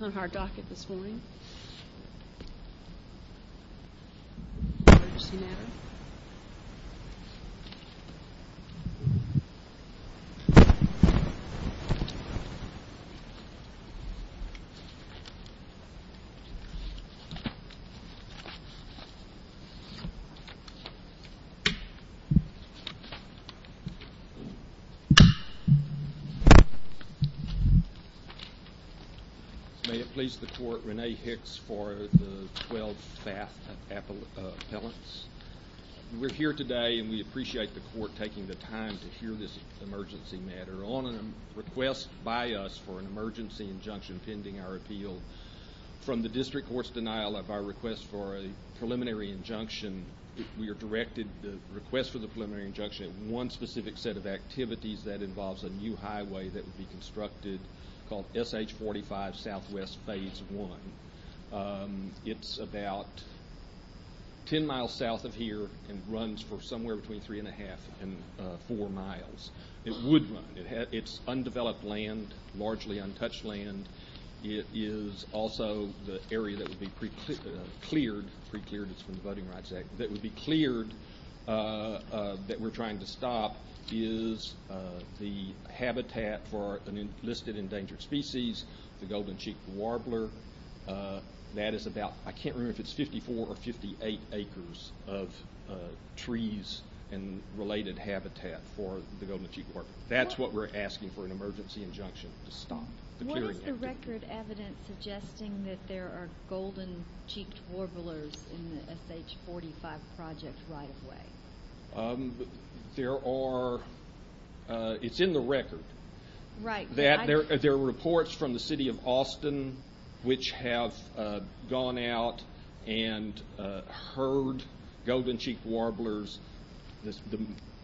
on our docket this morning. May it please the Court, Renee Hicks for the Twelve Fath Appellants. We're here today and we appreciate the Court taking the time to hear this emergency matter. On a request by us for an emergency injunction pending our appeal from the District Court's denial of our request for a preliminary injunction, we are directed to request for the preliminary injunction at one specific set of activities that involves a new highway that would be constructed called SH-45 SW Phase 1. It's about ten miles south of here and runs for somewhere between three and a half and four miles. It would run. It's undeveloped land, largely untouched land. It is also the area that would be cleared, pre-cleared, it's from the Voting Rights Act, that would be cleared that we're trying to stop is the habitat for an enlisted endangered species, the golden-cheeked warbler. That is about, I can't remember if it's 54 or 58 acres of trees and related habitat for the golden-cheeked warbler. That's what we're asking for an emergency injunction to stop. What is the record evidence suggesting that there are golden-cheeked warblers in the SH-45 project right-of-way? There are, it's in the record. Right. There are reports from the city of Austin which have gone out and heard golden-cheeked warblers,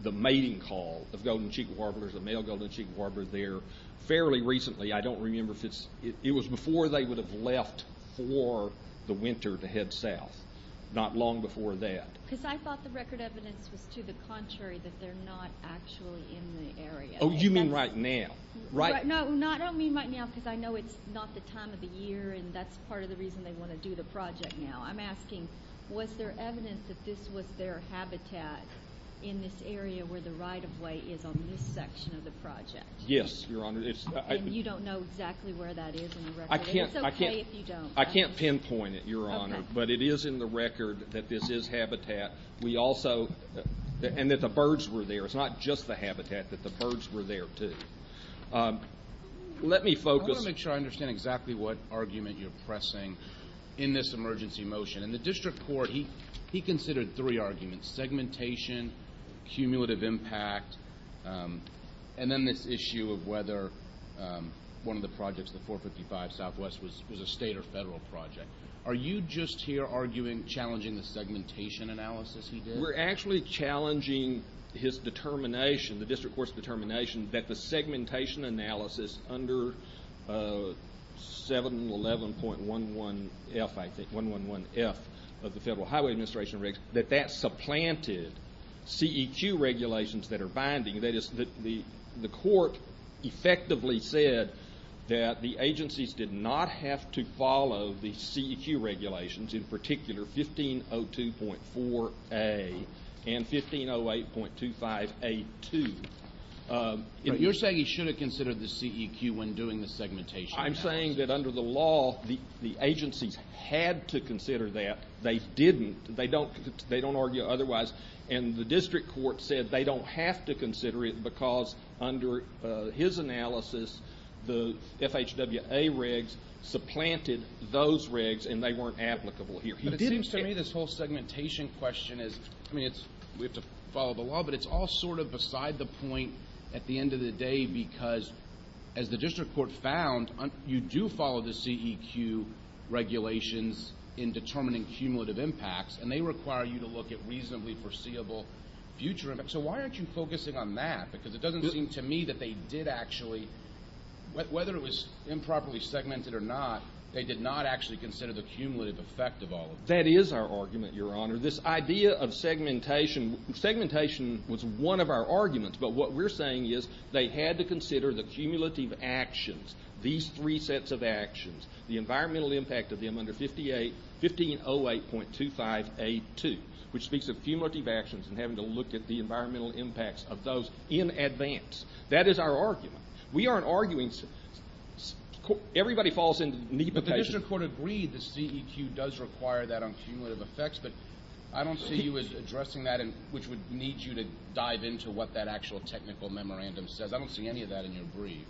the mating call of golden-cheeked warblers, the male golden-cheeked warblers there. Fairly recently, I don't remember if it's, it was before they would have left for the winter to head south, not long before that. Because I thought the record evidence was to the contrary, that they're not actually in the area. Oh, you mean right now, right? No, I don't mean right now because I know it's not the time of the year and that's part of the reason they want to do the project now. I'm asking, was there evidence that this was their habitat in this area where the right-of-way is on this section of the project? Yes, Your Honor. And you don't know exactly where that is in the record? It's okay if you don't. I can't pinpoint it, Your Honor. Okay. But it is in the record that this is habitat. We also, and that the birds were there. It's not just the habitat, that the birds were there too. Let me focus. I want to make sure I understand exactly what argument you're pressing in this emergency motion. In the district court, he considered three arguments, segmentation, cumulative impact, and then this issue of whether one of the projects, the 455 Southwest, was a state or federal project. Are you just here arguing, challenging the segmentation analysis he did? We're actually challenging his determination, the district court's determination, that the segmentation analysis under 711.111F, I think, 111F of the Federal Highway Administration Regulation, that that supplanted CEQ regulations that are binding. That is, the court effectively said that the agencies did not have to follow the CEQ regulations, in particular, 1502.4A and 1508.25A2. You're saying he should have considered the CEQ when doing the segmentation analysis? I'm saying that under the law, the agencies had to consider that. They didn't. They don't argue otherwise. And the district court said they don't have to consider it because, under his analysis, the FHWA regs supplanted those regs and they weren't applicable here. But it seems to me this whole segmentation question is, I mean, we have to follow the law, but it's all sort of beside the point at the end of the day because, as the district court found, you do follow the CEQ regulations in determining cumulative impacts, and they require you to look at reasonably foreseeable future impacts. So why aren't you focusing on that? Because it doesn't seem to me that they did actually, whether it was improperly segmented or not, they did not actually consider the cumulative effect of all of this. That is our argument, Your Honor. This idea of segmentation, segmentation was one of our arguments, but what we're saying is they had to consider the cumulative actions, these three sets of actions, the environmental impact of them under 1508.25A2, which speaks of cumulative actions and having to look at the environmental impacts of those in advance. That is our argument. We aren't arguing. Everybody falls into nepotism. But the district court agreed the CEQ does require that on cumulative effects, but I don't see you as addressing that, which would need you to dive into what that actual technical memorandum says. I don't see any of that in your brief.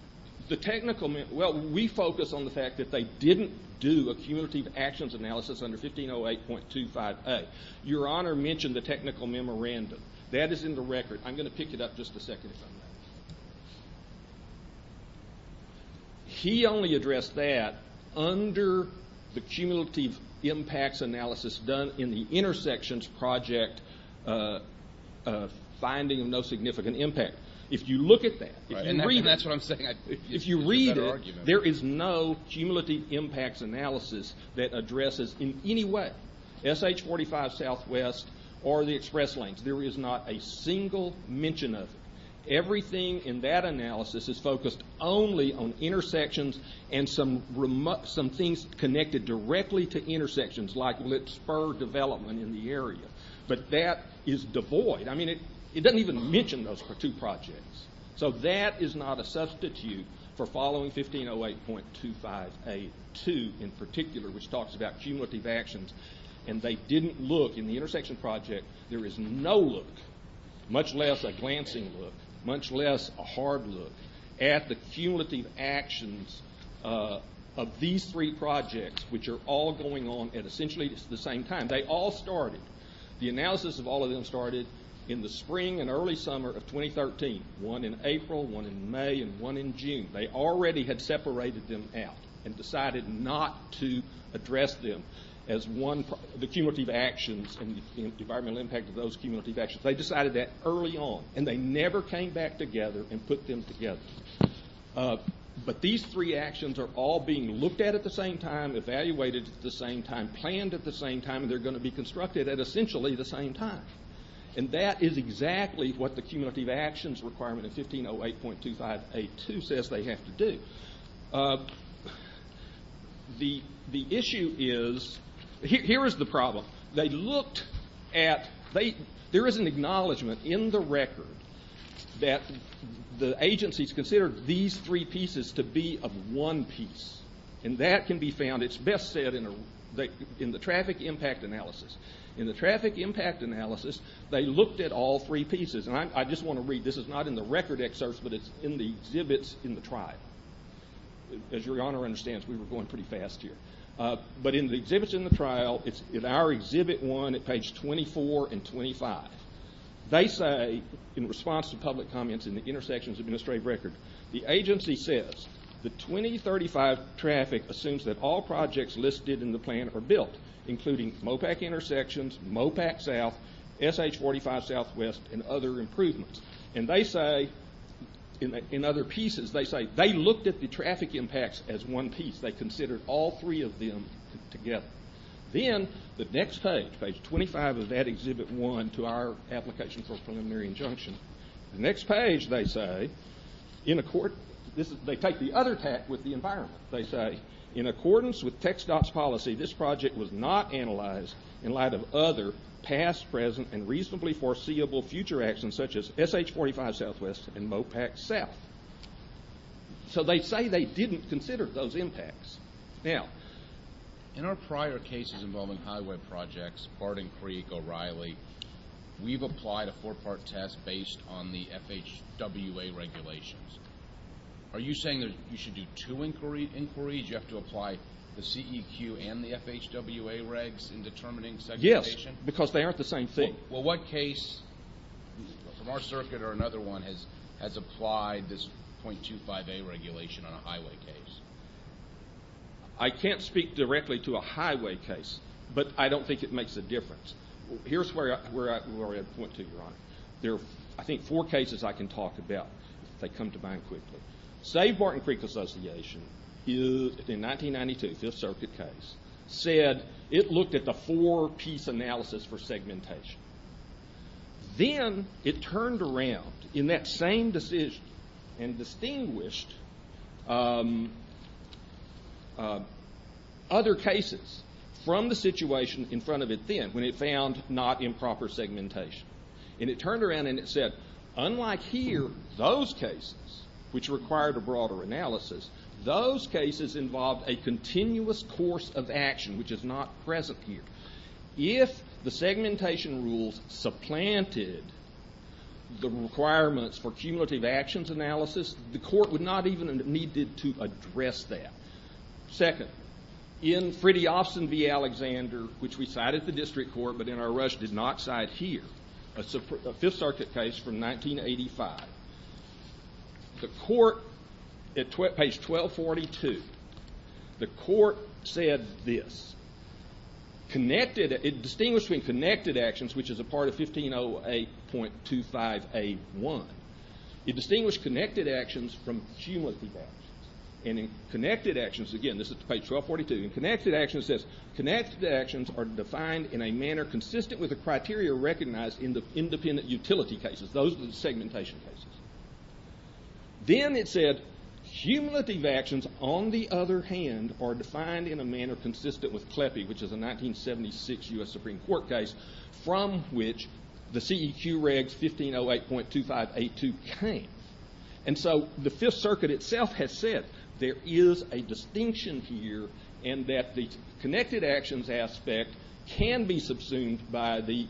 The technical memorandum, well, we focus on the fact that they didn't do a cumulative actions analysis under 1508.25A. Your Honor mentioned the technical memorandum. That is in the record. I'm going to pick it up just a second if I may. He only addressed that under the cumulative impacts analysis done in the intersections project, finding of no significant impact. If you look at that, if you read it, there is no cumulative impacts analysis that addresses in any way SH-45 Southwest or the express lanes. There is not a single mention of it. Everything in that analysis is focused only on intersections and some things connected directly to intersections, like spur development in the area. But that is devoid. I mean, it doesn't even mention those two projects. So that is not a substitute for following 1508.25A.2 in particular, which talks about cumulative actions. And they didn't look in the intersection project. There is no look, much less a glancing look, much less a hard look, at the cumulative actions of these three projects, which are all going on at essentially the same time. They all started. The analysis of all of them started in the spring and early summer of 2013, one in April, one in May, and one in June. They already had separated them out and decided not to address them as the cumulative actions and the environmental impact of those cumulative actions. They decided that early on, and they never came back together and put them together. But these three actions are all being looked at at the same time, evaluated at the same time, planned at the same time, and they're going to be constructed at essentially the same time. And that is exactly what the cumulative actions requirement of 1508.25A.2 says they have to do. The issue is, here is the problem. They looked at, there is an acknowledgment in the record that the agencies considered these three pieces to be of one piece. And that can be found, it's best said in the traffic impact analysis. In the traffic impact analysis, they looked at all three pieces. And I just want to read, this is not in the record excerpts, but it's in the exhibits in the trial. As your Honor understands, we were going pretty fast here. But in the exhibits in the trial, it's in our exhibit one at page 24 and 25. They say, in response to public comments in the intersections administrative record, the agency says the 2035 traffic assumes that all projects listed in the plan are built, including MOPAC intersections, MOPAC South, SH45 Southwest, and other improvements. And they say, in other pieces, they say they looked at the traffic impacts as one piece. They considered all three of them together. Then the next page, page 25 of that exhibit one to our application for preliminary injunction, the next page, they say, they take the other tack with the environment. They say, in accordance with TxDOT's policy, this project was not analyzed in light of other past, present, and reasonably foreseeable future actions such as SH45 Southwest and MOPAC South. So they say they didn't consider those impacts. Now, in our prior cases involving highway projects, Hardin Creek, O'Reilly, we've applied a four-part test based on the FHWA regulations. Are you saying that you should do two inquiries? You have to apply the CEQ and the FHWA regs in determining segregation? Yes, because they aren't the same thing. Well, what case from our circuit or another one has applied this .25A regulation on a highway case? I can't speak directly to a highway case, but I don't think it makes a difference. Here's where I point to, Your Honor. There are, I think, four cases I can talk about if they come to mind quickly. Save Martin Creek Association in 1992, the Fifth Circuit case, said it looked at the four-piece analysis for segmentation. Then it turned around in that same decision and distinguished other cases from the situation in front of it then, when it found not improper segmentation. And it turned around and it said, unlike here, those cases, which required a broader analysis, those cases involved a continuous course of action, which is not present here. If the segmentation rules supplanted the requirements for cumulative actions analysis, the court would not even have needed to address that. Second, in Fridtjofsen v. Alexander, which we cited at the district court, but in our rush did not cite here, a Fifth Circuit case from 1985. The court, at page 1242, the court said this. It distinguished between connected actions, which is a part of 1508.25A1. It distinguished connected actions from cumulative actions. And in connected actions, again, this is page 1242, in connected actions it says, connected actions are defined in a manner consistent with the criteria recognized in the independent utility cases. Those are the segmentation cases. Then it said, cumulative actions, on the other hand, are defined in a manner consistent with CLEPE, which is a 1976 U.S. Supreme Court case, from which the CEQ regs 1508.2582 came. And so the Fifth Circuit itself has said there is a distinction here and that the connected actions aspect can be subsumed by the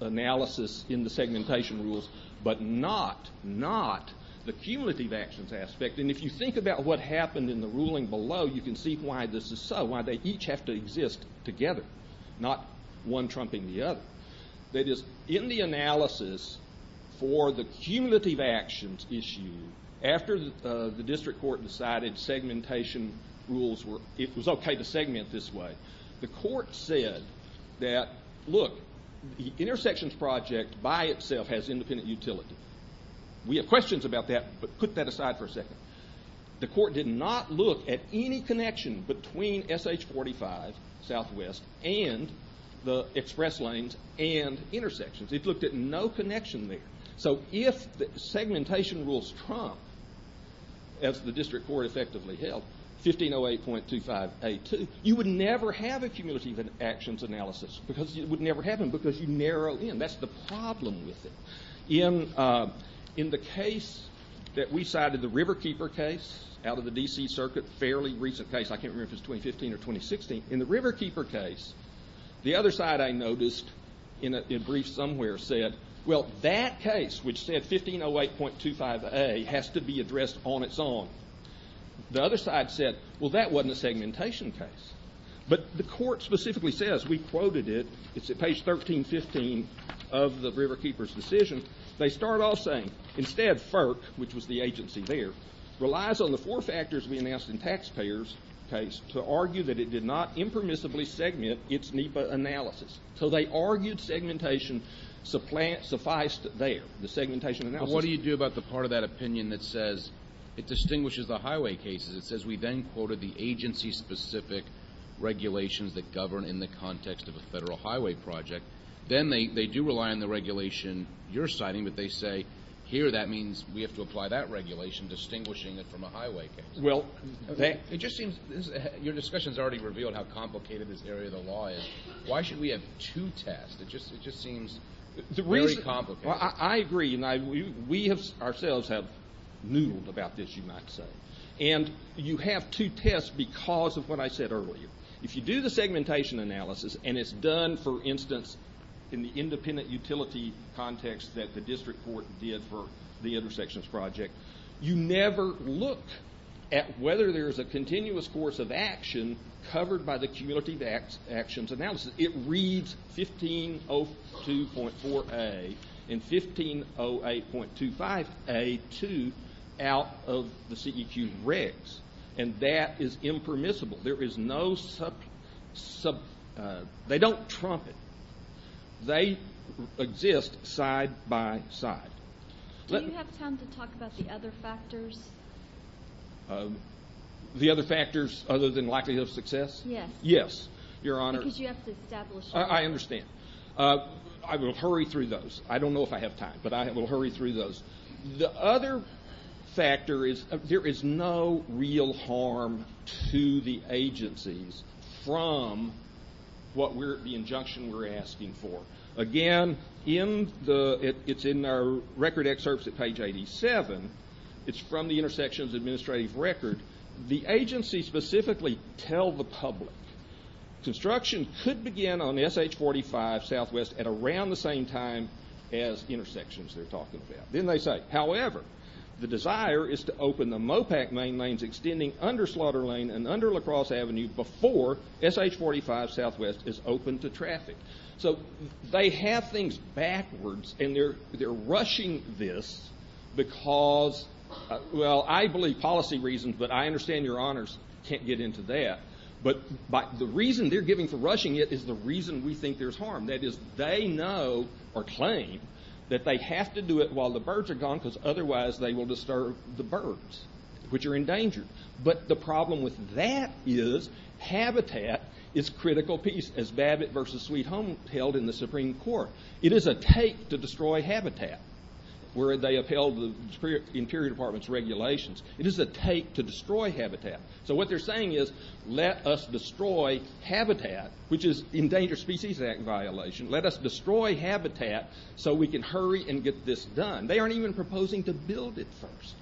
analysis in the segmentation rules, but not the cumulative actions aspect. And if you think about what happened in the ruling below, you can see why this is so, why they each have to exist together, not one trumping the other. That is, in the analysis for the cumulative actions issue, after the district court decided segmentation rules were, it was okay to segment this way, the court said that, look, the intersections project by itself has independent utility. We have questions about that, but put that aside for a second. The court did not look at any connection between SH-45, southwest, and the express lanes and intersections. It looked at no connection there. So if the segmentation rules trump, as the district court effectively held, 1508.2582, you would never have a cumulative actions analysis because you narrow in. That's the problem with it. In the case that we cited, the Riverkeeper case out of the D.C. circuit, fairly recent case, I can't remember if it was 2015 or 2016. In the Riverkeeper case, the other side I noticed in a brief somewhere said, well, that case which said 1508.25A has to be addressed on its own. The other side said, well, that wasn't a segmentation case. But the court specifically says, we quoted it, it's at page 1315 of the Riverkeeper's decision, they start off saying, instead, FERC, which was the agency there, relies on the four factors we announced in taxpayers' case to argue that it did not impermissibly segment its NEPA analysis. So they argued segmentation sufficed there, the segmentation analysis. What do you do about the part of that opinion that says it distinguishes the highway cases? It says we then quoted the agency-specific regulations that govern in the context of a federal highway project. Then they do rely on the regulation you're citing, but they say, here, that means we have to apply that regulation, distinguishing it from a highway case. Well, it just seems your discussion has already revealed how complicated this area of the law is. Why should we have two tests? It just seems very complicated. I agree. We ourselves have noodled about this, you might say. And you have two tests because of what I said earlier. If you do the segmentation analysis and it's done, for instance, in the independent utility context that the district court did for the intersections project, you never look at whether there's a continuous course of action covered by the cumulative actions analysis. It reads 1502.4A and 1508.25A2 out of the CEQ regs. And that is impermissible. There is no sub – they don't trump it. They exist side by side. Do you have time to talk about the other factors? The other factors other than likelihood of success? Yes. Yes, Your Honor. Because you have to establish them. I understand. I will hurry through those. I don't know if I have time, but I will hurry through those. The other factor is there is no real harm to the agencies from what we're – the injunction we're asking for. Again, in the – it's in our record excerpts at page 87. It's from the intersections administrative record. The agencies specifically tell the public construction could begin on SH-45 southwest at around the same time as intersections they're talking about. Then they say, however, the desire is to open the MOPAC main lanes extending under Slaughter Lane and under La Crosse Avenue before SH-45 southwest is open to traffic. So they have things backwards, and they're rushing this because, well, I believe policy reasons, but I understand Your Honors can't get into that. But the reason they're giving for rushing it is the reason we think there's harm. That is, they know or claim that they have to do it while the birds are gone, because otherwise they will disturb the birds, which are endangered. But the problem with that is habitat is critical piece, as Babbitt v. Sweet Home held in the Supreme Court. It is a take to destroy habitat, where they upheld the Interior Department's regulations. It is a take to destroy habitat. So what they're saying is, let us destroy habitat, which is Endangered Species Act violation. Let us destroy habitat so we can hurry and get this done. They aren't even proposing to build it first.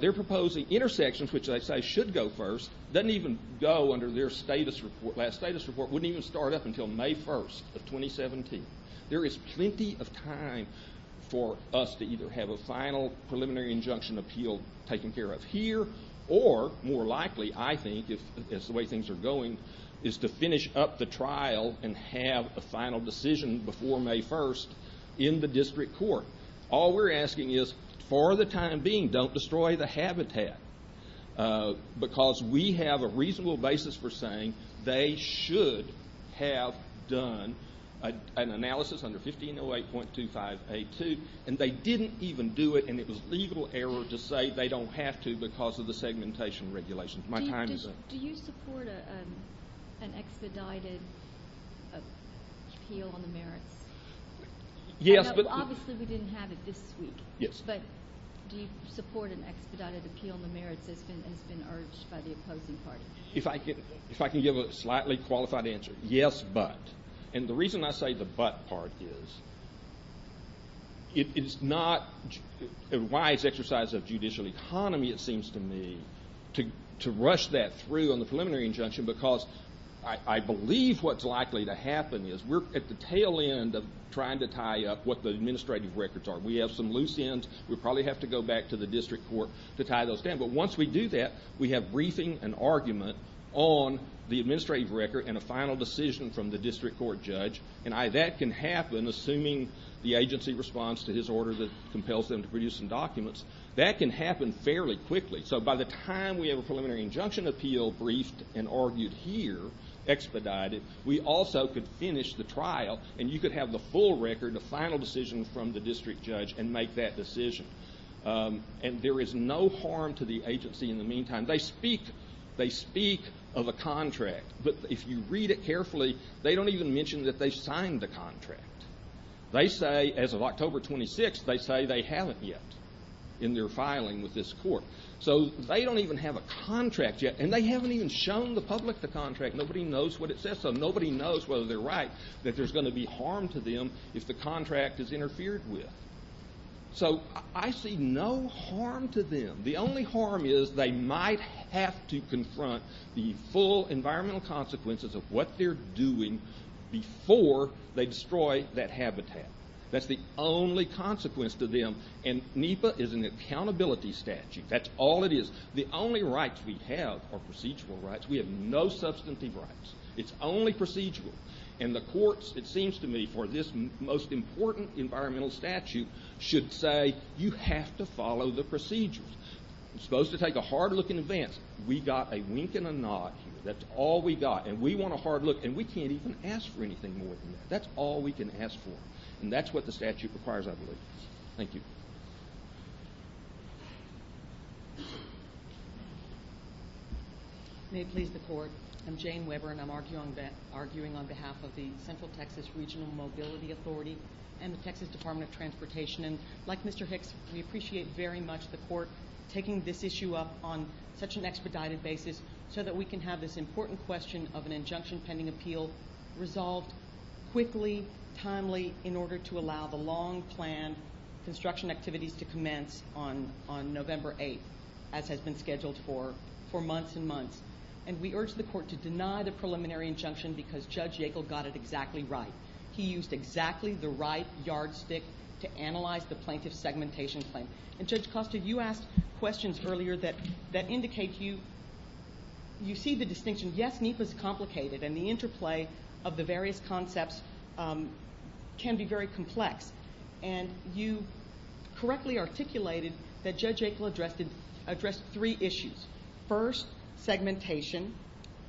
They're proposing intersections, which they say should go first, doesn't even go under their status report. That status report wouldn't even start up until May 1st of 2017. There is plenty of time for us to either have a final preliminary injunction appeal taken care of here, or, more likely, I think, as the way things are going, is to finish up the trial and have a final decision before May 1st in the district court. All we're asking is, for the time being, don't destroy the habitat, because we have a reasonable basis for saying they should have done an analysis under 1508.2582, and they didn't even do it, and it was legal error to say they don't have to because of the segmentation regulations. My time is up. Do you support an expedited appeal on the merits? Yes, but... Obviously, we didn't have it this week. Yes. But do you support an expedited appeal on the merits that's been urged by the opposing party? If I can give a slightly qualified answer, yes, but... And the reason I say the but part is, it's not a wise exercise of judicial economy, it seems to me, to rush that through on the preliminary injunction because I believe what's likely to happen is we're at the tail end of trying to tie up what the administrative records are. We have some loose ends. We'll probably have to go back to the district court to tie those down. But once we do that, we have briefing and argument on the administrative record and a final decision from the district court judge, and that can happen, assuming the agency responds to his order that compels them to produce some documents. That can happen fairly quickly. So by the time we have a preliminary injunction appeal briefed and argued here, expedited, we also could finish the trial and you could have the full record, a final decision from the district judge, and make that decision. And there is no harm to the agency in the meantime. They speak of a contract, but if you read it carefully, they don't even mention that they signed the contract. They say, as of October 26th, they say they haven't yet in their filing with this court. So they don't even have a contract yet, and they haven't even shown the public the contract. Nobody knows what it says, so nobody knows whether they're right, that there's going to be harm to them if the contract is interfered with. So I see no harm to them. The only harm is they might have to confront the full environmental consequences of what they're doing before they destroy that habitat. That's the only consequence to them, and NEPA is an accountability statute. That's all it is. The only rights we have are procedural rights. We have no substantive rights. It's only procedural. And the courts, it seems to me, for this most important environmental statute, should say you have to follow the procedures. You're supposed to take a hard look in advance. We got a wink and a nod here. That's all we got. And we want a hard look, and we can't even ask for anything more than that. That's all we can ask for. And that's what the statute requires, I believe. Thank you. May it please the Court. I'm Jane Weber, and I'm arguing on behalf of the Central Texas Regional Mobility Authority and the Texas Department of Transportation. And like Mr. Hicks, we appreciate very much the court taking this issue up on such an expedited basis so that we can have this important question of an injunction pending appeal resolved quickly, timely, in order to allow the long-planned construction activities to commence on November 8th, as has been scheduled for months and months. And we urge the court to deny the preliminary injunction because Judge Yackel got it exactly right. He used exactly the right yardstick to analyze the plaintiff's segmentation claim. And Judge Costa, you asked questions earlier that indicate you see the distinction. Yes, NEPA is complicated, and the interplay of the various concepts can be very complex. And you correctly articulated that Judge Yackel addressed three issues. First, segmentation.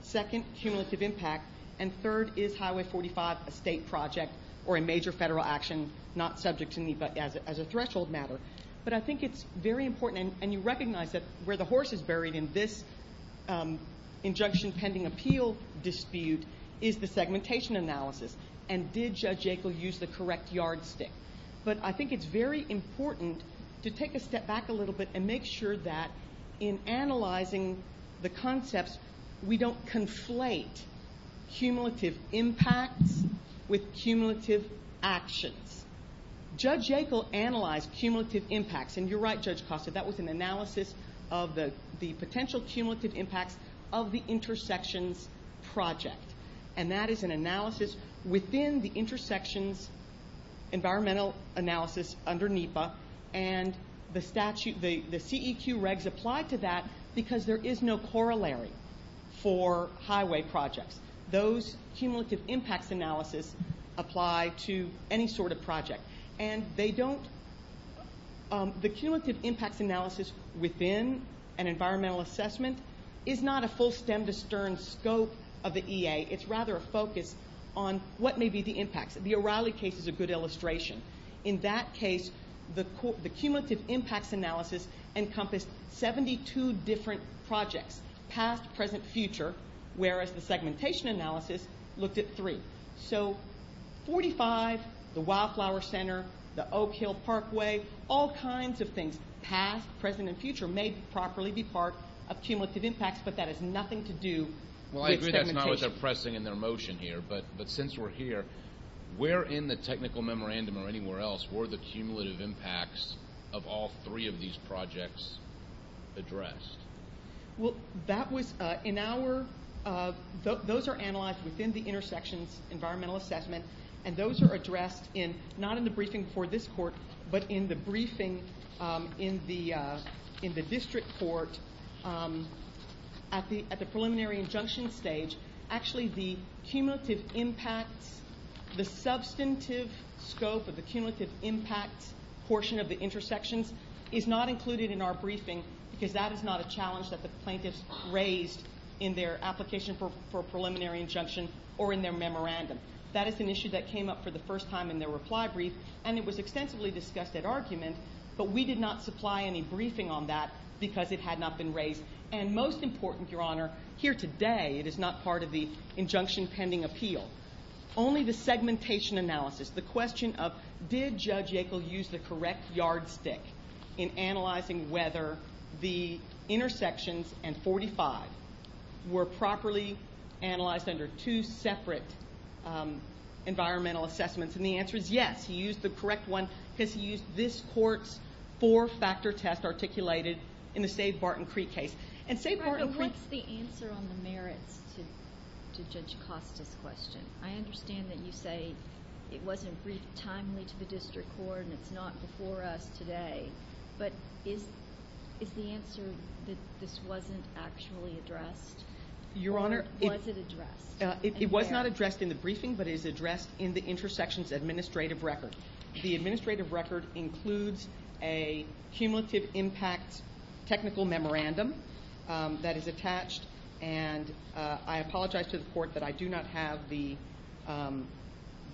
Second, cumulative impact. And third, is Highway 45 a state project or a major federal action not subject to NEPA as a threshold matter? But I think it's very important, and you recognize that where the horse is buried in this injunction pending appeal dispute is the segmentation analysis. And did Judge Yackel use the correct yardstick? But I think it's very important to take a step back a little bit and make sure that in analyzing the concepts, we don't conflate cumulative impacts with cumulative actions. Judge Yackel analyzed cumulative impacts, and you're right, Judge Costa, that was an analysis of the potential cumulative impacts of the intersections project. And that is an analysis within the intersections environmental analysis under NEPA, and the CEQ regs apply to that because there is no corollary for highway projects. Those cumulative impacts analysis apply to any sort of project. And the cumulative impacts analysis within an environmental assessment is not a full stem to stern scope of the EA. It's rather a focus on what may be the impacts. The O'Reilly case is a good illustration. In that case, the cumulative impacts analysis encompassed 72 different projects, past, present, future, whereas the segmentation analysis looked at three. So 45, the Wildflower Center, the Oak Hill Parkway, all kinds of things, past, present, and future, may properly be part of cumulative impacts, but that has nothing to do with segmentation. Well, I agree that's not what they're pressing in their motion here, but since we're here, where in the technical memorandum or anywhere else were the cumulative impacts of all three of these projects addressed? Well, those are analyzed within the intersections environmental assessment, and those are addressed not in the briefing for this court, but in the briefing in the district court at the preliminary injunction stage. Actually, the substantive scope of the cumulative impacts portion of the intersections is not included in our briefing because that is not a challenge that the plaintiffs raised in their application for a preliminary injunction or in their memorandum. That is an issue that came up for the first time in their reply brief, and it was extensively discussed at argument, but we did not supply any briefing on that because it had not been raised. And most important, Your Honor, here today, it is not part of the injunction pending appeal. Only the segmentation analysis, the question of did Judge Yackel use the correct yardstick in analyzing whether the intersections and 45 were properly analyzed under two separate environmental assessments, and the answer is yes. He used the correct one because he used this court's four-factor test articulated in the Save Barton Creek case. What's the answer on the merits to Judge Acosta's question? I understand that you say it wasn't briefed timely to the district court and it's not before us today, but is the answer that this wasn't actually addressed, or was it addressed? It was not addressed in the briefing, but it is addressed in the intersections administrative record. The administrative record includes a cumulative impact technical memorandum that is attached, and I apologize to the court that I do not have the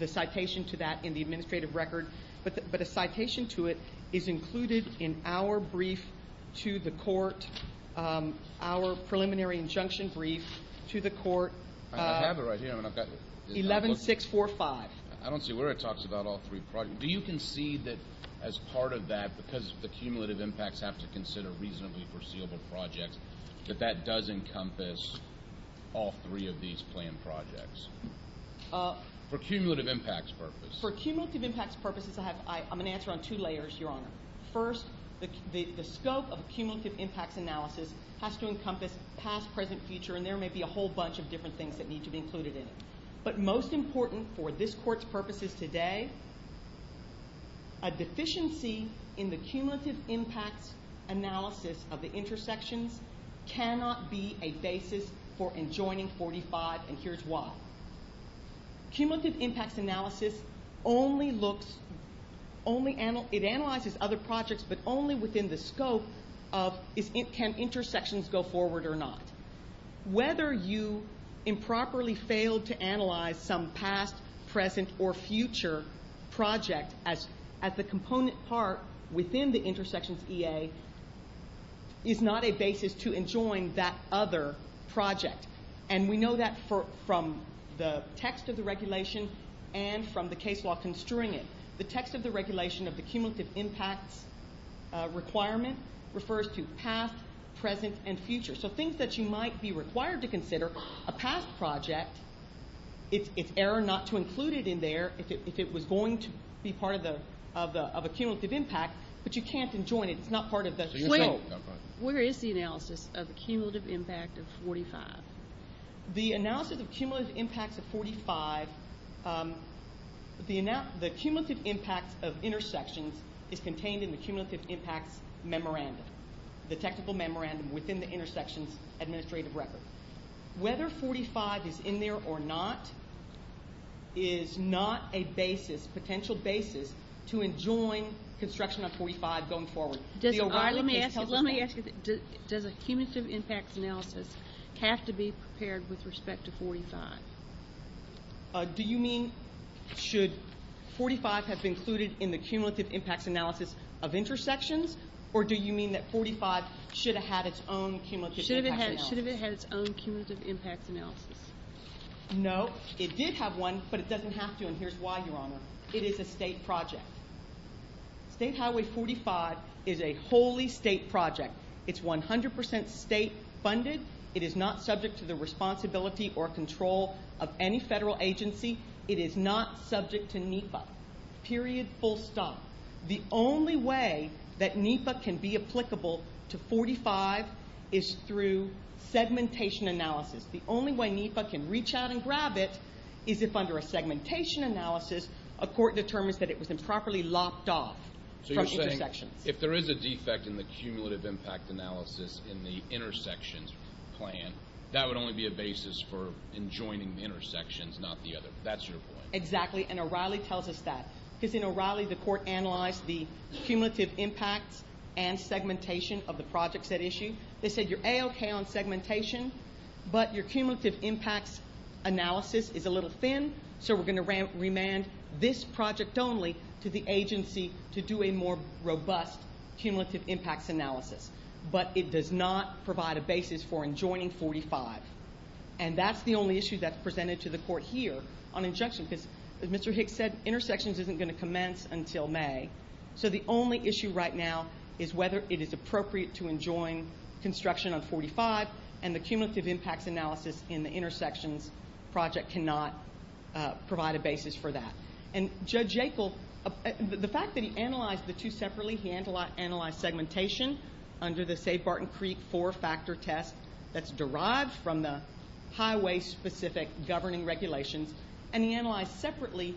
citation to that in the administrative record, but a citation to it is included in our brief to the court, our preliminary injunction brief to the court. I have it right here. 11-645. I don't see where it talks about all three projects. Do you concede that as part of that, because the cumulative impacts have to consider reasonably foreseeable projects, that that does encompass all three of these planned projects for cumulative impacts purposes? For cumulative impacts purposes, I'm going to answer on two layers, Your Honor. First, the scope of cumulative impacts analysis has to encompass past, present, future, and there may be a whole bunch of different things that need to be included in it, but most important for this court's purposes today, a deficiency in the cumulative impacts analysis of the intersections cannot be a basis for enjoining 45, and here's why. Cumulative impacts analysis only looks, it analyzes other projects, but only within the scope of can intersections go forward or not. Whether you improperly failed to analyze some past, present, or future project as a component part within the intersections EA is not a basis to enjoin that other project, and we know that from the text of the regulation and from the case law construing it. The text of the regulation of the cumulative impacts requirement refers to past, present, and future. So things that you might be required to consider, a past project, it's error not to include it in there if it was going to be part of a cumulative impact, but you can't enjoin it. It's not part of the plan. Where is the analysis of a cumulative impact of 45? The analysis of cumulative impacts of 45, the cumulative impacts of intersections is contained in the cumulative impacts memorandum, the technical memorandum within the intersections administrative record. Whether 45 is in there or not is not a basis, potential basis, to enjoin construction of 45 going forward. Let me ask you, does a cumulative impacts analysis have to be prepared with respect to 45? Do you mean should 45 have been included in the cumulative impacts analysis of intersections, or do you mean that 45 should have had its own cumulative impacts analysis? Should have it had its own cumulative impacts analysis. No, it did have one, but it doesn't have to, and here's why, Your Honor. It is a state project. State Highway 45 is a wholly state project. It's 100% state funded. It is not subject to the responsibility or control of any federal agency. It is not subject to NEPA, period, full stop. The only way that NEPA can be applicable to 45 is through segmentation analysis. The only way NEPA can reach out and grab it is if under a segmentation analysis, a court determines that it was improperly locked off from intersections. If there is a defect in the cumulative impact analysis in the intersections plan, that would only be a basis for enjoining the intersections, not the other. That's your point. Exactly, and O'Reilly tells us that. Because in O'Reilly, the court analyzed the cumulative impacts and segmentation of the projects at issue. They said you're A-OK on segmentation, but your cumulative impacts analysis is a little thin, so we're going to remand this project only to the agency to do a more robust cumulative impacts analysis. But it does not provide a basis for enjoining 45. And that's the only issue that's presented to the court here on injunction, because as Mr. Hicks said, intersections isn't going to commence until May. So the only issue right now is whether it is appropriate to enjoin construction on 45, and the cumulative impacts analysis in the intersections project cannot provide a basis for that. And Judge Jekyll, the fact that he analyzed the two separately, he analyzed segmentation under the, say, Barton Creek four-factor test that's derived from the highway-specific governing regulations, and he analyzed separately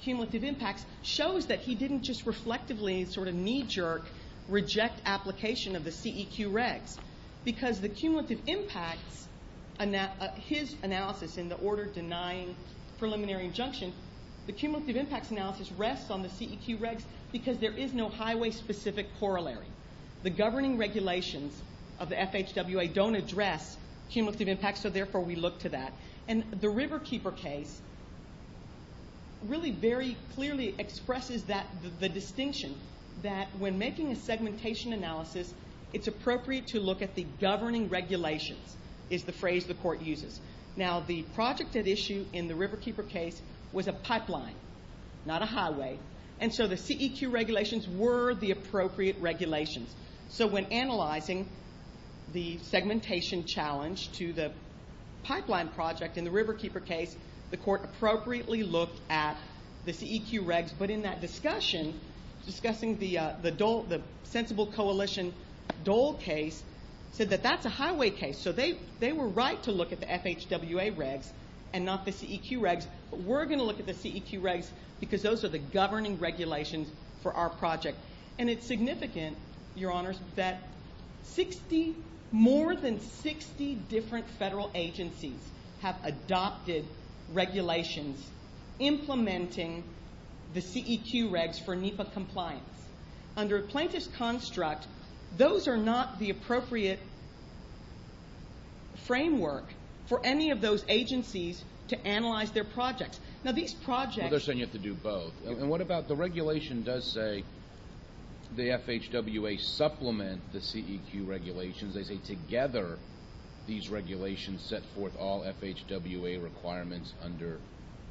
cumulative impacts, shows that he didn't just reflectively sort of knee-jerk reject application of the CEQ regs. Because the cumulative impacts, his analysis in the order denying preliminary injunction, the cumulative impacts analysis rests on the CEQ regs because there is no highway-specific corollary. The governing regulations of the FHWA don't address cumulative impacts, so therefore we look to that. And the Riverkeeper case really very clearly expresses the distinction that when making a segmentation analysis, it's appropriate to look at the governing regulations is the phrase the court uses. Now, the project at issue in the Riverkeeper case was a pipeline, not a highway, and so the CEQ regulations were the appropriate regulations. So when analyzing the segmentation challenge to the pipeline project in the Riverkeeper case, the court appropriately looked at the CEQ regs. But in that discussion, discussing the sensible coalition Dole case, said that that's a highway case. So they were right to look at the FHWA regs and not the CEQ regs, but we're going to look at the CEQ regs because those are the governing regulations for our project. And it's significant, Your Honors, that more than 60 different federal agencies have adopted regulations implementing the CEQ regs for NEPA compliance. Under a plaintiff's construct, those are not the appropriate framework for any of those agencies to analyze their projects. Well, they're saying you have to do both. And what about the regulation does say the FHWA supplement the CEQ regulations. They say together these regulations set forth all FHWA requirements under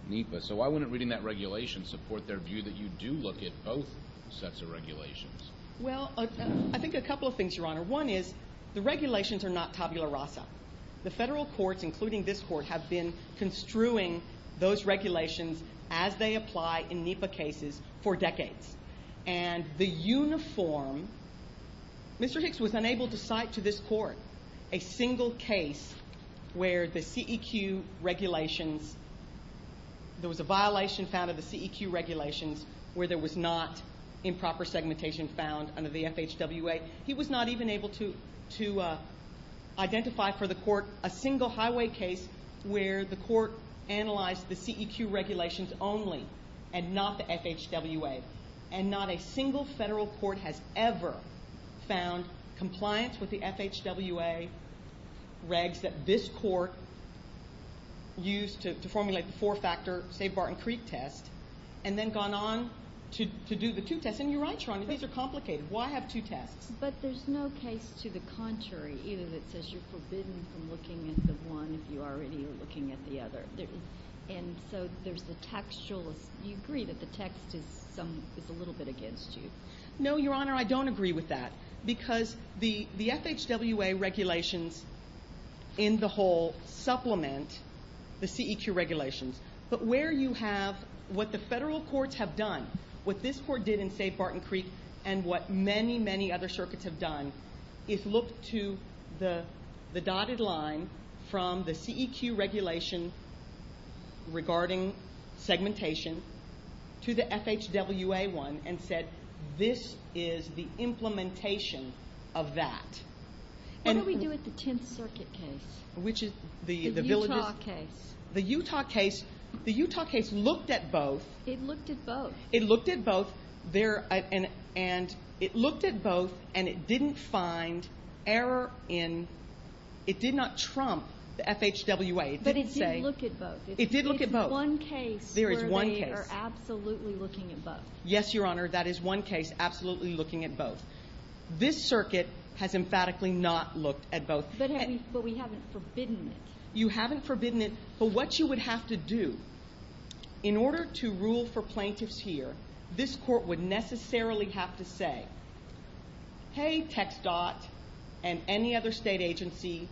NEPA. So why wouldn't reading that regulation support their view that you do look at both sets of regulations? Well, I think a couple of things, Your Honor. One is the regulations are not tabula rasa. The federal courts, including this court, have been construing those regulations as they apply in NEPA cases for decades. And the uniform, Mr. Hicks was unable to cite to this court a single case where the CEQ regulations, there was a violation found of the CEQ regulations where there was not improper segmentation found under the FHWA. He was not even able to identify for the court a single highway case where the court analyzed the CEQ regulations only and not the FHWA. And not a single federal court has ever found compliance with the FHWA regs that this court used to formulate the four-factor Save Barton Creek test and then gone on to do the two tests. And you're right, Your Honor, these are complicated. Why have two tests? But there's no case to the contrary either that says you're forbidden from looking at the one if you already are looking at the other. And so there's the textual, you agree that the text is a little bit against you. No, Your Honor, I don't agree with that. Because the FHWA regulations in the whole supplement the CEQ regulations. But where you have what the federal courts have done, what this court did in Save Barton Creek, and what many, many other circuits have done is look to the dotted line from the CEQ regulation regarding segmentation to the FHWA one and said this is the implementation of that. What do we do with the Tenth Circuit case? The Utah case. The Utah case looked at both. It looked at both. It looked at both and it didn't find error in, it did not trump the FHWA. But it did look at both. It did look at both. It's one case where they are absolutely looking at both. Yes, Your Honor, that is one case absolutely looking at both. This circuit has emphatically not looked at both. But we haven't forbidden it. You haven't forbidden it, but what you would have to do in order to rule for plaintiffs here, this court would necessarily have to say, hey, TxDOT and any other state agency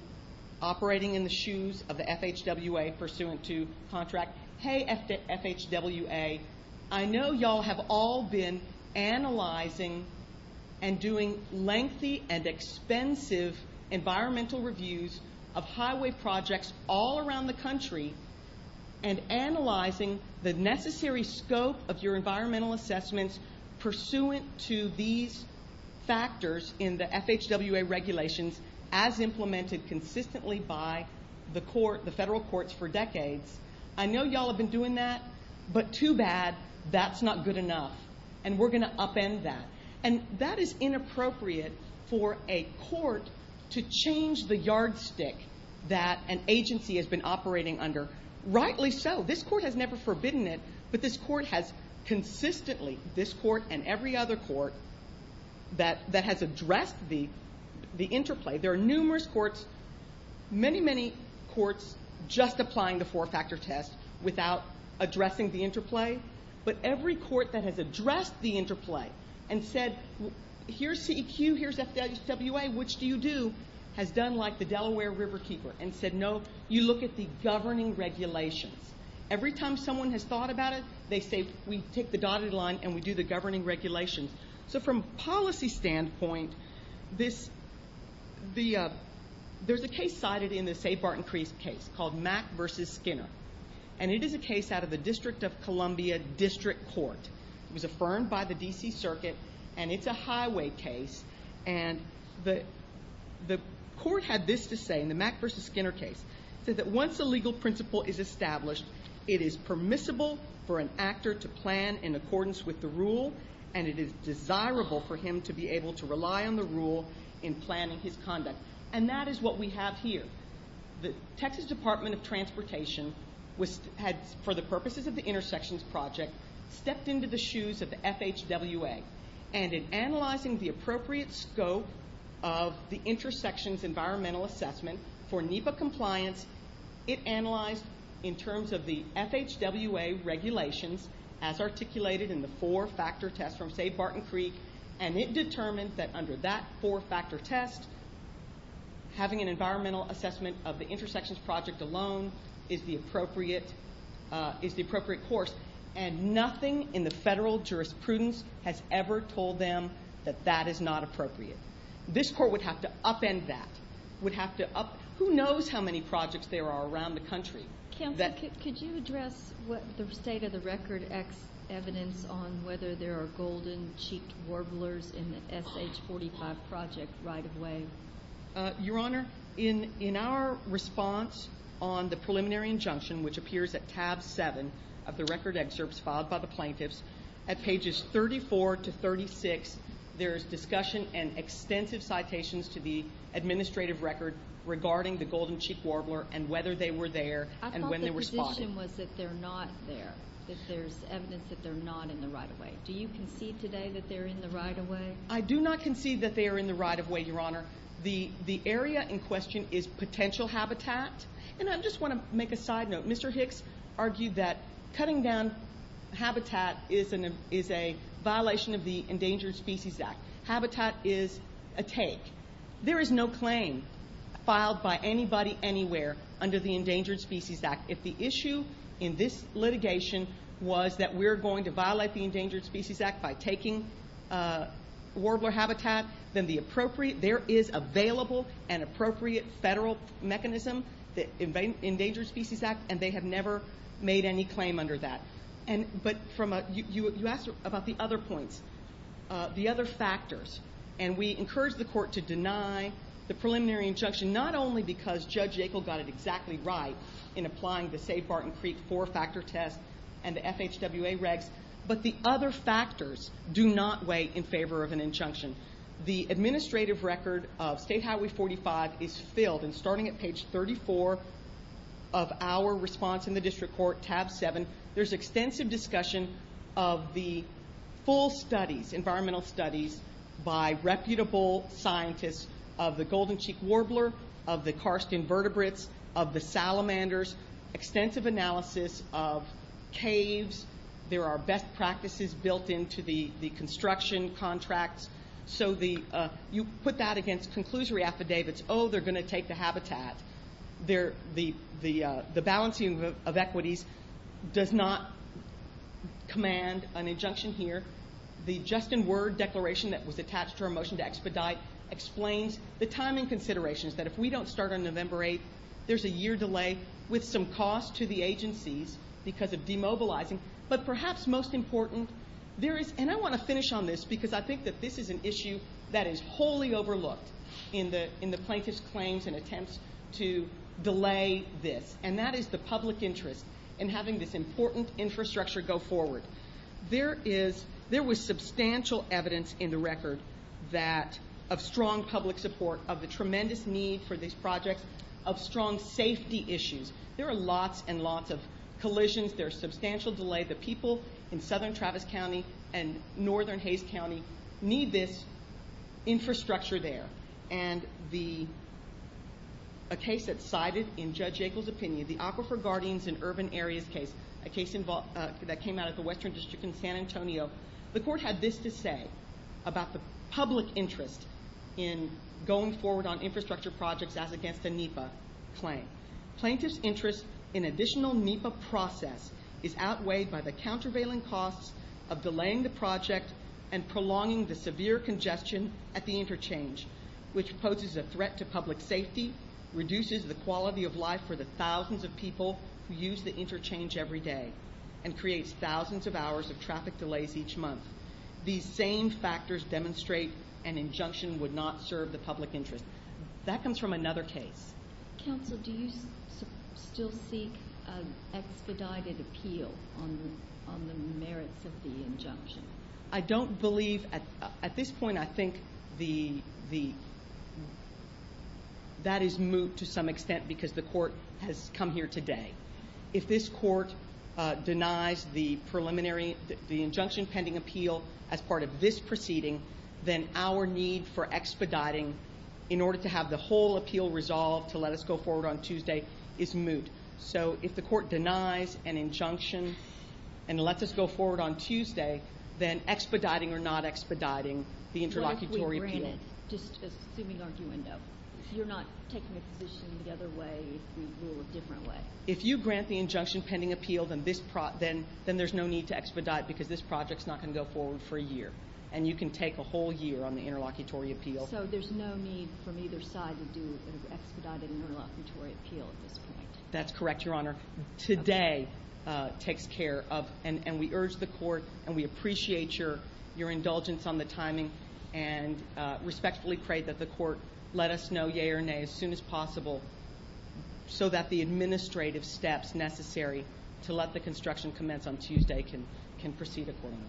operating in the shoes of the FHWA pursuant to contract, hey, FHWA, I know y'all have all been analyzing and doing lengthy and expensive environmental reviews of highway projects all around the country and analyzing the necessary scope of your environmental assessments pursuant to these factors in the FHWA regulations as implemented consistently by the federal courts for decades. I know y'all have been doing that, but too bad, that's not good enough, and we're going to upend that. And that is inappropriate for a court to change the yardstick that an agency has been operating under. Rightly so. This court has never forbidden it, but this court has consistently, this court and every other court, that has addressed the interplay. There are numerous courts, many, many courts just applying the four-factor test without addressing the interplay, but every court that has addressed the interplay and said, here's CEQ, here's FHWA, which do you do, has done like the Delaware Riverkeeper and said, no, you look at the governing regulations. Every time someone has thought about it, they say, we take the dotted line and we do the governing regulations. So from a policy standpoint, there's a case cited in the Say Barton Crease case called Mack v. Skinner, and it is a case out of the District of Columbia District Court. It was affirmed by the D.C. Circuit, and it's a highway case, and the court had this to say in the Mack v. Skinner case. It said that once a legal principle is established, it is permissible for an actor to plan in accordance with the rule, and it is desirable for him to be able to rely on the rule in planning his conduct. And that is what we have here. The Texas Department of Transportation had, for the purposes of the intersections project, stepped into the shoes of the FHWA, and in analyzing the appropriate scope of the intersections environmental assessment for NEPA compliance, it analyzed in terms of the FHWA regulations as articulated in the four-factor test from Say Barton Crease, and it determined that under that four-factor test, having an environmental assessment of the intersections project alone is the appropriate course, and nothing in the federal jurisprudence has ever told them that that is not appropriate. This court would have to upend that. Who knows how many projects there are around the country? Counsel, could you address the state-of-the-record evidence on whether there are golden-cheeked warblers in the SH-45 project right away? Your Honor, in our response on the preliminary injunction, which appears at tab 7 of the record excerpts filed by the plaintiffs, at pages 34 to 36, there is discussion and extensive citations to the administrative record regarding the golden-cheeked warbler and whether they were there and when they were spotted. I thought the position was that they're not there, that there's evidence that they're not in the right-of-way. Do you concede today that they're in the right-of-way? I do not concede that they are in the right-of-way, Your Honor. The area in question is potential habitat, and I just want to make a side note. Mr. Hicks argued that cutting down habitat is a violation of the Endangered Species Act. Habitat is a take. There is no claim filed by anybody anywhere under the Endangered Species Act. If the issue in this litigation was that we're going to violate the Endangered Species Act by taking warbler habitat, then there is available and appropriate federal mechanism, the Endangered Species Act, and they have never made any claim under that. But you asked about the other points, the other factors, and we encourage the Court to deny the preliminary injunction not only because Judge Yackel got it exactly right in applying the Save Barton Creek four-factor test and the FHWA regs, but the other factors do not weigh in favor of an injunction. The administrative record of State Highway 45 is filled, and starting at page 34 of our response in the District Court, tab 7, there's extensive discussion of the full studies, environmental studies, by reputable scientists of the golden-cheeked warbler, of the karst invertebrates, of the salamanders, extensive analysis of caves. There are best practices built into the construction contracts. So you put that against conclusory affidavits, oh, they're going to take the habitat. The balancing of equities does not command an injunction here. The just-in-word declaration that was attached to our motion to expedite explains the timing considerations, that if we don't start on November 8th, there's a year delay with some cost to the agencies because of demobilizing, but perhaps most important, there is, and I want to finish on this because I think that this is an issue that is wholly overlooked in the plaintiff's claims and attempts to delay this, and that is the public interest in having this important infrastructure go forward. There was substantial evidence in the record of strong public support, of the tremendous need for these projects, of strong safety issues. There are lots and lots of collisions. There's substantial delay. The people in southern Travis County and northern Hays County need this infrastructure there. And a case that's cited in Judge Yackel's opinion, the Aquifer Guardians in Urban Areas case, a case that came out of the Western District in San Antonio, the court had this to say about the public interest in going forward on infrastructure projects as against a NEPA claim. Plaintiff's interest in additional NEPA process is outweighed by the countervailing costs of delaying the project and prolonging the severe congestion at the interchange, which poses a threat to public safety, reduces the quality of life for the thousands of people who use the interchange every day, and creates thousands of hours of traffic delays each month. These same factors demonstrate an injunction would not serve the public interest. That comes from another case. Counsel, do you still seek an expedited appeal on the merits of the injunction? I don't believe, at this point I think that is moot to some extent because the court has come here today. If this court denies the preliminary, the injunction pending appeal as part of this proceeding, then our need for expediting in order to have the whole appeal resolved to let us go forward on Tuesday is moot. So if the court denies an injunction and lets us go forward on Tuesday, then expediting or not expediting the interlocutory appeal... What if we grant it, just assuming arguendo? You're not taking a position the other way if we rule a different way. If you grant the injunction pending appeal, then there's no need to expedite because this project's not going to go forward for a year, and you can take a whole year on the interlocutory appeal. So there's no need from either side to do an expedited interlocutory appeal at this point. That's correct, Your Honor. Today takes care of, and we urge the court, and we appreciate your indulgence on the timing and respectfully pray that the court let us know yea or nay as soon as possible so that the administrative steps necessary to let the construction commence on Tuesday can proceed accordingly.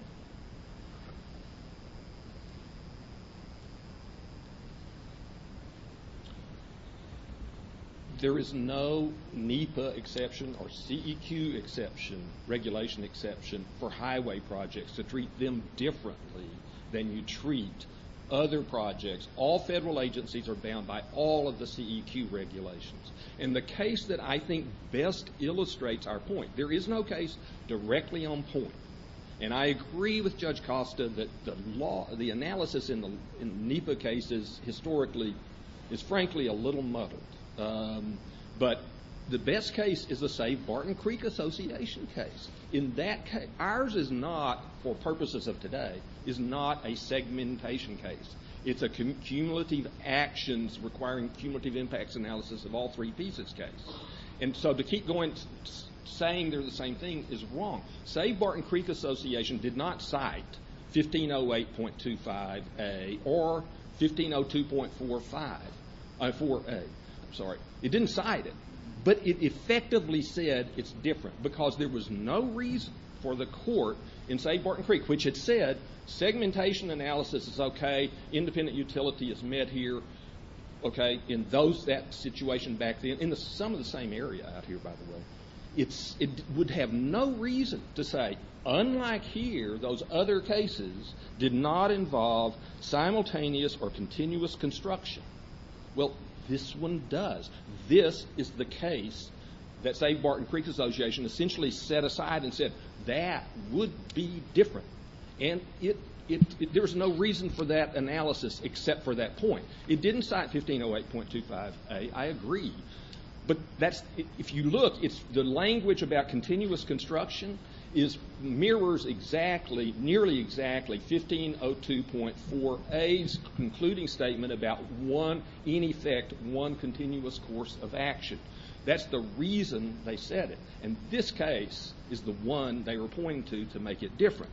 There is no NEPA exception or CEQ exception, regulation exception, for highway projects to treat them differently than you treat other projects. All federal agencies are bound by all of the CEQ regulations. And the case that I think best illustrates our point, there is no case directly on point. And I agree with Judge Costa that the analysis in the NEPA cases historically is, frankly, a little muddled. But the best case is the, say, Barton Creek Association case. Ours is not, for purposes of today, is not a segmentation case. It's a cumulative actions requiring cumulative impacts analysis of all three pieces case. And so to keep going saying they're the same thing is wrong. Say Barton Creek Association did not cite 1508.25a or 1502.45a. It didn't cite it, but it effectively said it's different because there was no reason for the court in, say, segmentation analysis is okay, independent utility is met here, okay, in that situation back then, in some of the same area out here, by the way. It would have no reason to say, unlike here, those other cases did not involve simultaneous or continuous construction. Well, this one does. This is the case that, say, Barton Creek Association essentially set aside and said, that would be different. And there was no reason for that analysis except for that point. It didn't cite 1508.25a. I agree. But if you look, the language about continuous construction mirrors exactly, nearly exactly, 1502.4a's concluding statement about one, in effect, one continuous course of action. That's the reason they said it. And this case is the one they were pointing to to make it different.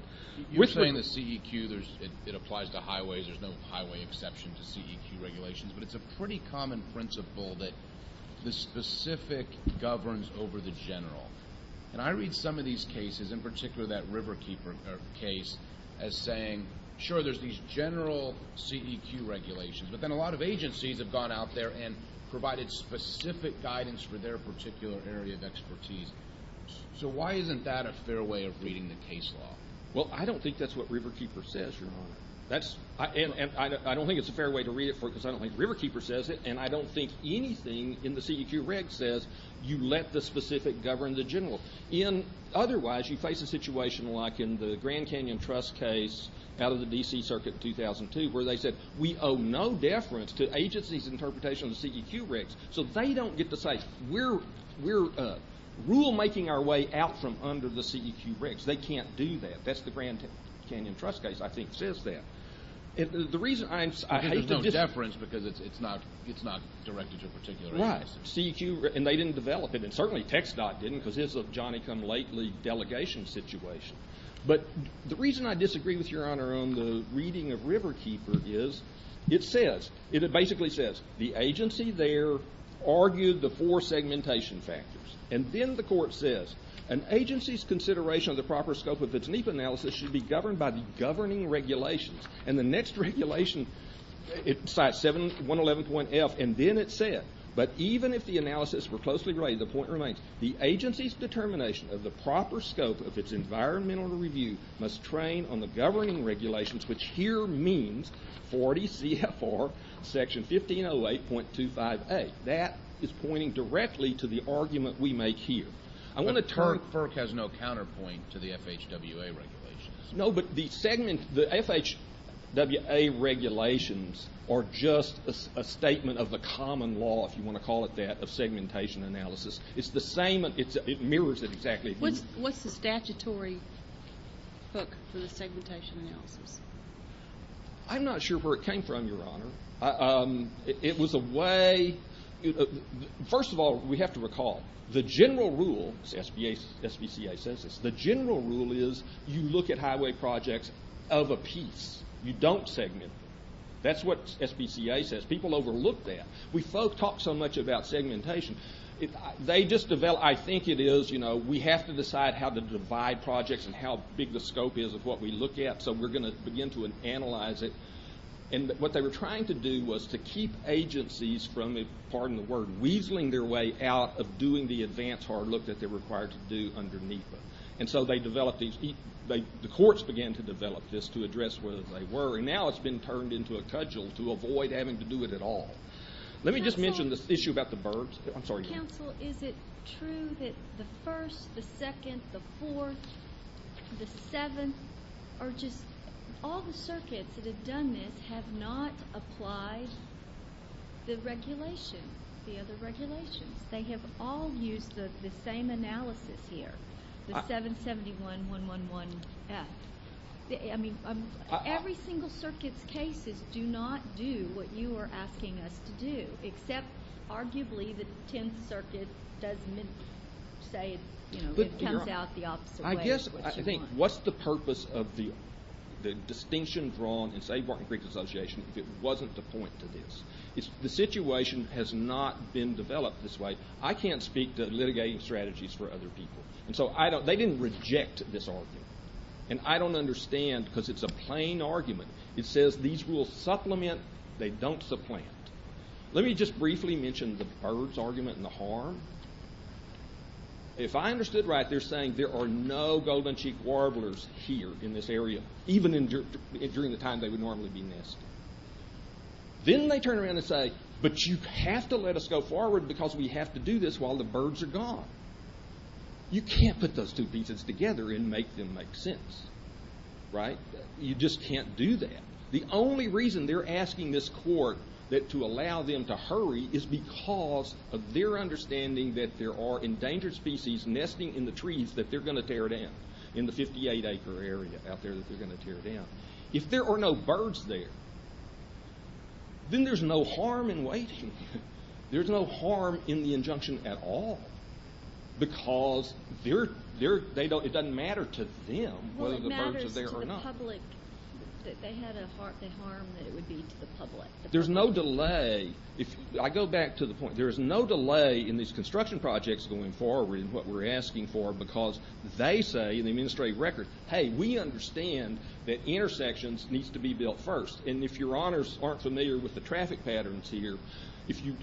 You're saying the CEQ, it applies to highways, there's no highway exception to CEQ regulations, but it's a pretty common principle that the specific governs over the general. And I read some of these cases, in particular that Riverkeeper case, as saying, sure, there's these general CEQ regulations, but then a lot of agencies have gone out there and provided specific guidance for their particular area of expertise. So why isn't that a fair way of reading the case law? Well, I don't think that's what Riverkeeper says. And I don't think it's a fair way to read it because I don't think Riverkeeper says it, and I don't think anything in the CEQ reg says you let the specific govern the general. Otherwise, you face a situation like in the Grand Canyon Trust case out of the D.C. Circuit in 2002 where they said we owe no deference to agencies' interpretation of the CEQ regs. So they don't get to say we're rulemaking our way out from under the CEQ regs. They can't do that. That's the Grand Canyon Trust case, I think, says that. And the reason I hate to disagree. There's no deference because it's not directed to a particular agency. Right. CEQ, and they didn't develop it, and certainly TxDOT didn't, because this is a Johnny-come-lately delegation situation. But the reason I disagree with Your Honor on the reading of Riverkeeper is it says, it basically says the agency there argued the four segmentation factors. And then the court says an agency's consideration of the proper scope of its NEPA analysis should be governed by the governing regulations. And the next regulation, it cites 111.F, and then it said, but even if the analysis were closely related, the point remains, the agency's determination of the proper scope of its environmental review must train on the governing regulations, which here means 40 CFR section 1508.25a. That is pointing directly to the argument we make here. FERC has no counterpoint to the FHWA regulations. No, but the FHWA regulations are just a statement of the common law, if you want to call it that, of segmentation analysis. It's the same, it mirrors it exactly. What's the statutory book for the segmentation analysis? I'm not sure where it came from, Your Honor. It was a way, first of all, we have to recall, the general rule, SBCA says this, the general rule is you look at highway projects of a piece. You don't segment. That's what SBCA says. People overlook that. We folks talk so much about segmentation. They just develop, I think it is, you know, we have to decide how to divide projects and how big the scope is of what we look at, so we're going to begin to analyze it. And what they were trying to do was to keep agencies from, pardon the word, weaseling their way out of doing the advanced hard look that they're required to do underneath them. And so they developed these, the courts began to develop this to address whether they were, and now it's been turned into a cudgel to avoid having to do it at all. Let me just mention this issue about the burbs. I'm sorry. Counsel, is it true that the first, the second, the fourth, the seventh are just, all the circuits that have done this have not applied the regulations, the other regulations. They have all used the same analysis here, the 771-111-F. I mean, every single circuit's cases do not do what you are asking us to do, except arguably the Tenth Circuit does say it comes out the opposite way. I guess, I think, what's the purpose of the distinction drawn in, say, the Barking Creek Association if it wasn't to point to this? The situation has not been developed this way. I can't speak to litigating strategies for other people. And so they didn't reject this argument. And I don't understand because it's a plain argument. It says these rules supplement, they don't supplant. Let me just briefly mention the burbs argument and the harm. If I understood right, they're saying there are no golden-cheeked warblers here in this area, even during the time they would normally be nesting. Then they turn around and say, but you have to let us go forward because we have to do this while the birds are gone. You can't put those two pieces together and make them make sense, right? You just can't do that. The only reason they're asking this court to allow them to hurry is because of their understanding that there are endangered species nesting in the trees that they're going to tear down, in the 58-acre area out there that they're going to tear down. If there are no birds there, then there's no harm in waiting. There's no harm in the injunction at all because it doesn't matter to them whether the birds are there or not. Well, it matters to the public that they had a harm that it would be to the public. There's no delay. I go back to the point, there is no delay in these construction projects going forward and what we're asking for because they say in the administrative record, hey, we understand that intersections need to be built first. If your honors aren't familiar with the traffic patterns here, if you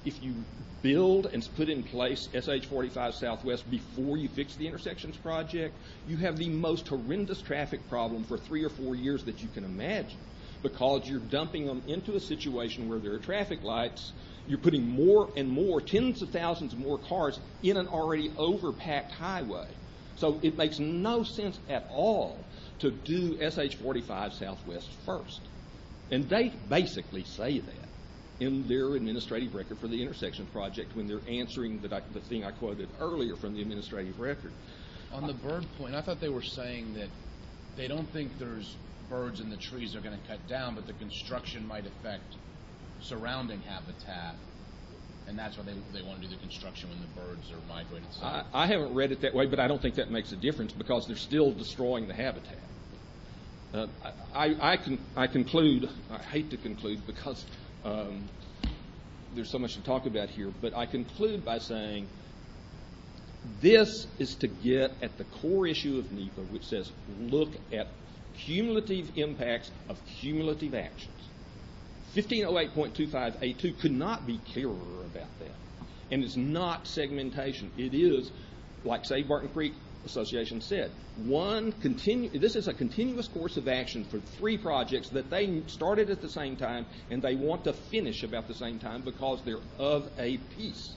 build and put in place SH-45 Southwest before you fix the intersections project, you have the most horrendous traffic problem for three or four years that you can imagine because you're dumping them into a situation where there are traffic lights. You're putting more and more, tens of thousands more cars in an already over-packed highway. It makes no sense at all to do SH-45 Southwest first. They basically say that in their administrative record for the intersection project when they're answering the thing I quoted earlier from the administrative record. On the bird point, I thought they were saying that they don't think there's birds in the trees that are going to cut down, but the construction might affect surrounding habitat and that's why they want to do the construction when the birds are migrating south. I haven't read it that way, but I don't think that makes a difference because they're still destroying the habitat. I conclude, I hate to conclude because there's so much to talk about here, but I conclude by saying this is to get at the core issue of NEPA, which says look at cumulative impacts of cumulative actions. 1508.2582 could not be clearer about that, and it's not segmentation. It is, like, say, Barton Creek Association said. This is a continuous course of action for three projects that they started at the same time and they want to finish about the same time because they're of a piece.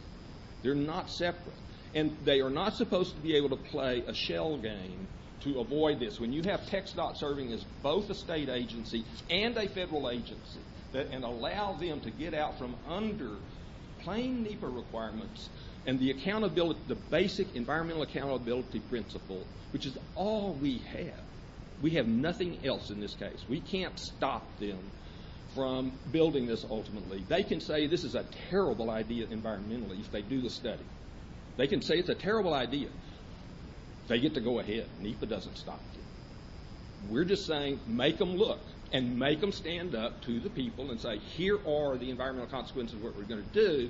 They're not separate, and they are not supposed to be able to play a shell game to avoid this. When you have TxDOT serving as both a state agency and a federal agency and allow them to get out from under plain NEPA requirements and the basic environmental accountability principle, which is all we have, we have nothing else in this case. We can't stop them from building this ultimately. They can say this is a terrible idea environmentally if they do the study. They can say it's a terrible idea. They get to go ahead. NEPA doesn't stop them. We're just saying make them look and make them stand up to the people and say, here are the environmental consequences of what we're going to do.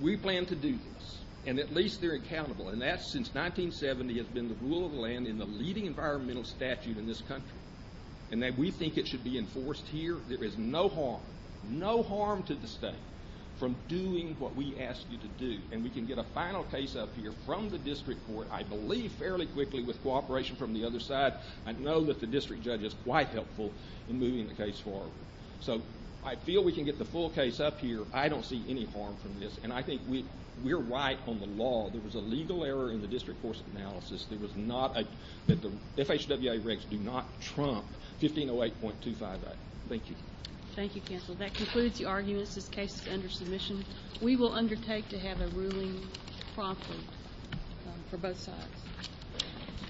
We plan to do this, and at least they're accountable, and that since 1970 has been the rule of the land in the leading environmental statute in this country, and that we think it should be enforced here. There is no harm, no harm to the state from doing what we ask you to do, and we can get a final case up here from the district court, I believe fairly quickly with cooperation from the other side. I know that the district judge is quite helpful in moving the case forward. So I feel we can get the full case up here. I don't see any harm from this, and I think we're right on the law. There was a legal error in the district court's analysis. The FHWA regs do not trump 1508.25a. Thank you. Thank you, counsel. That concludes the arguments. This case is under submission. We will undertake to have a ruling promptly for both sides.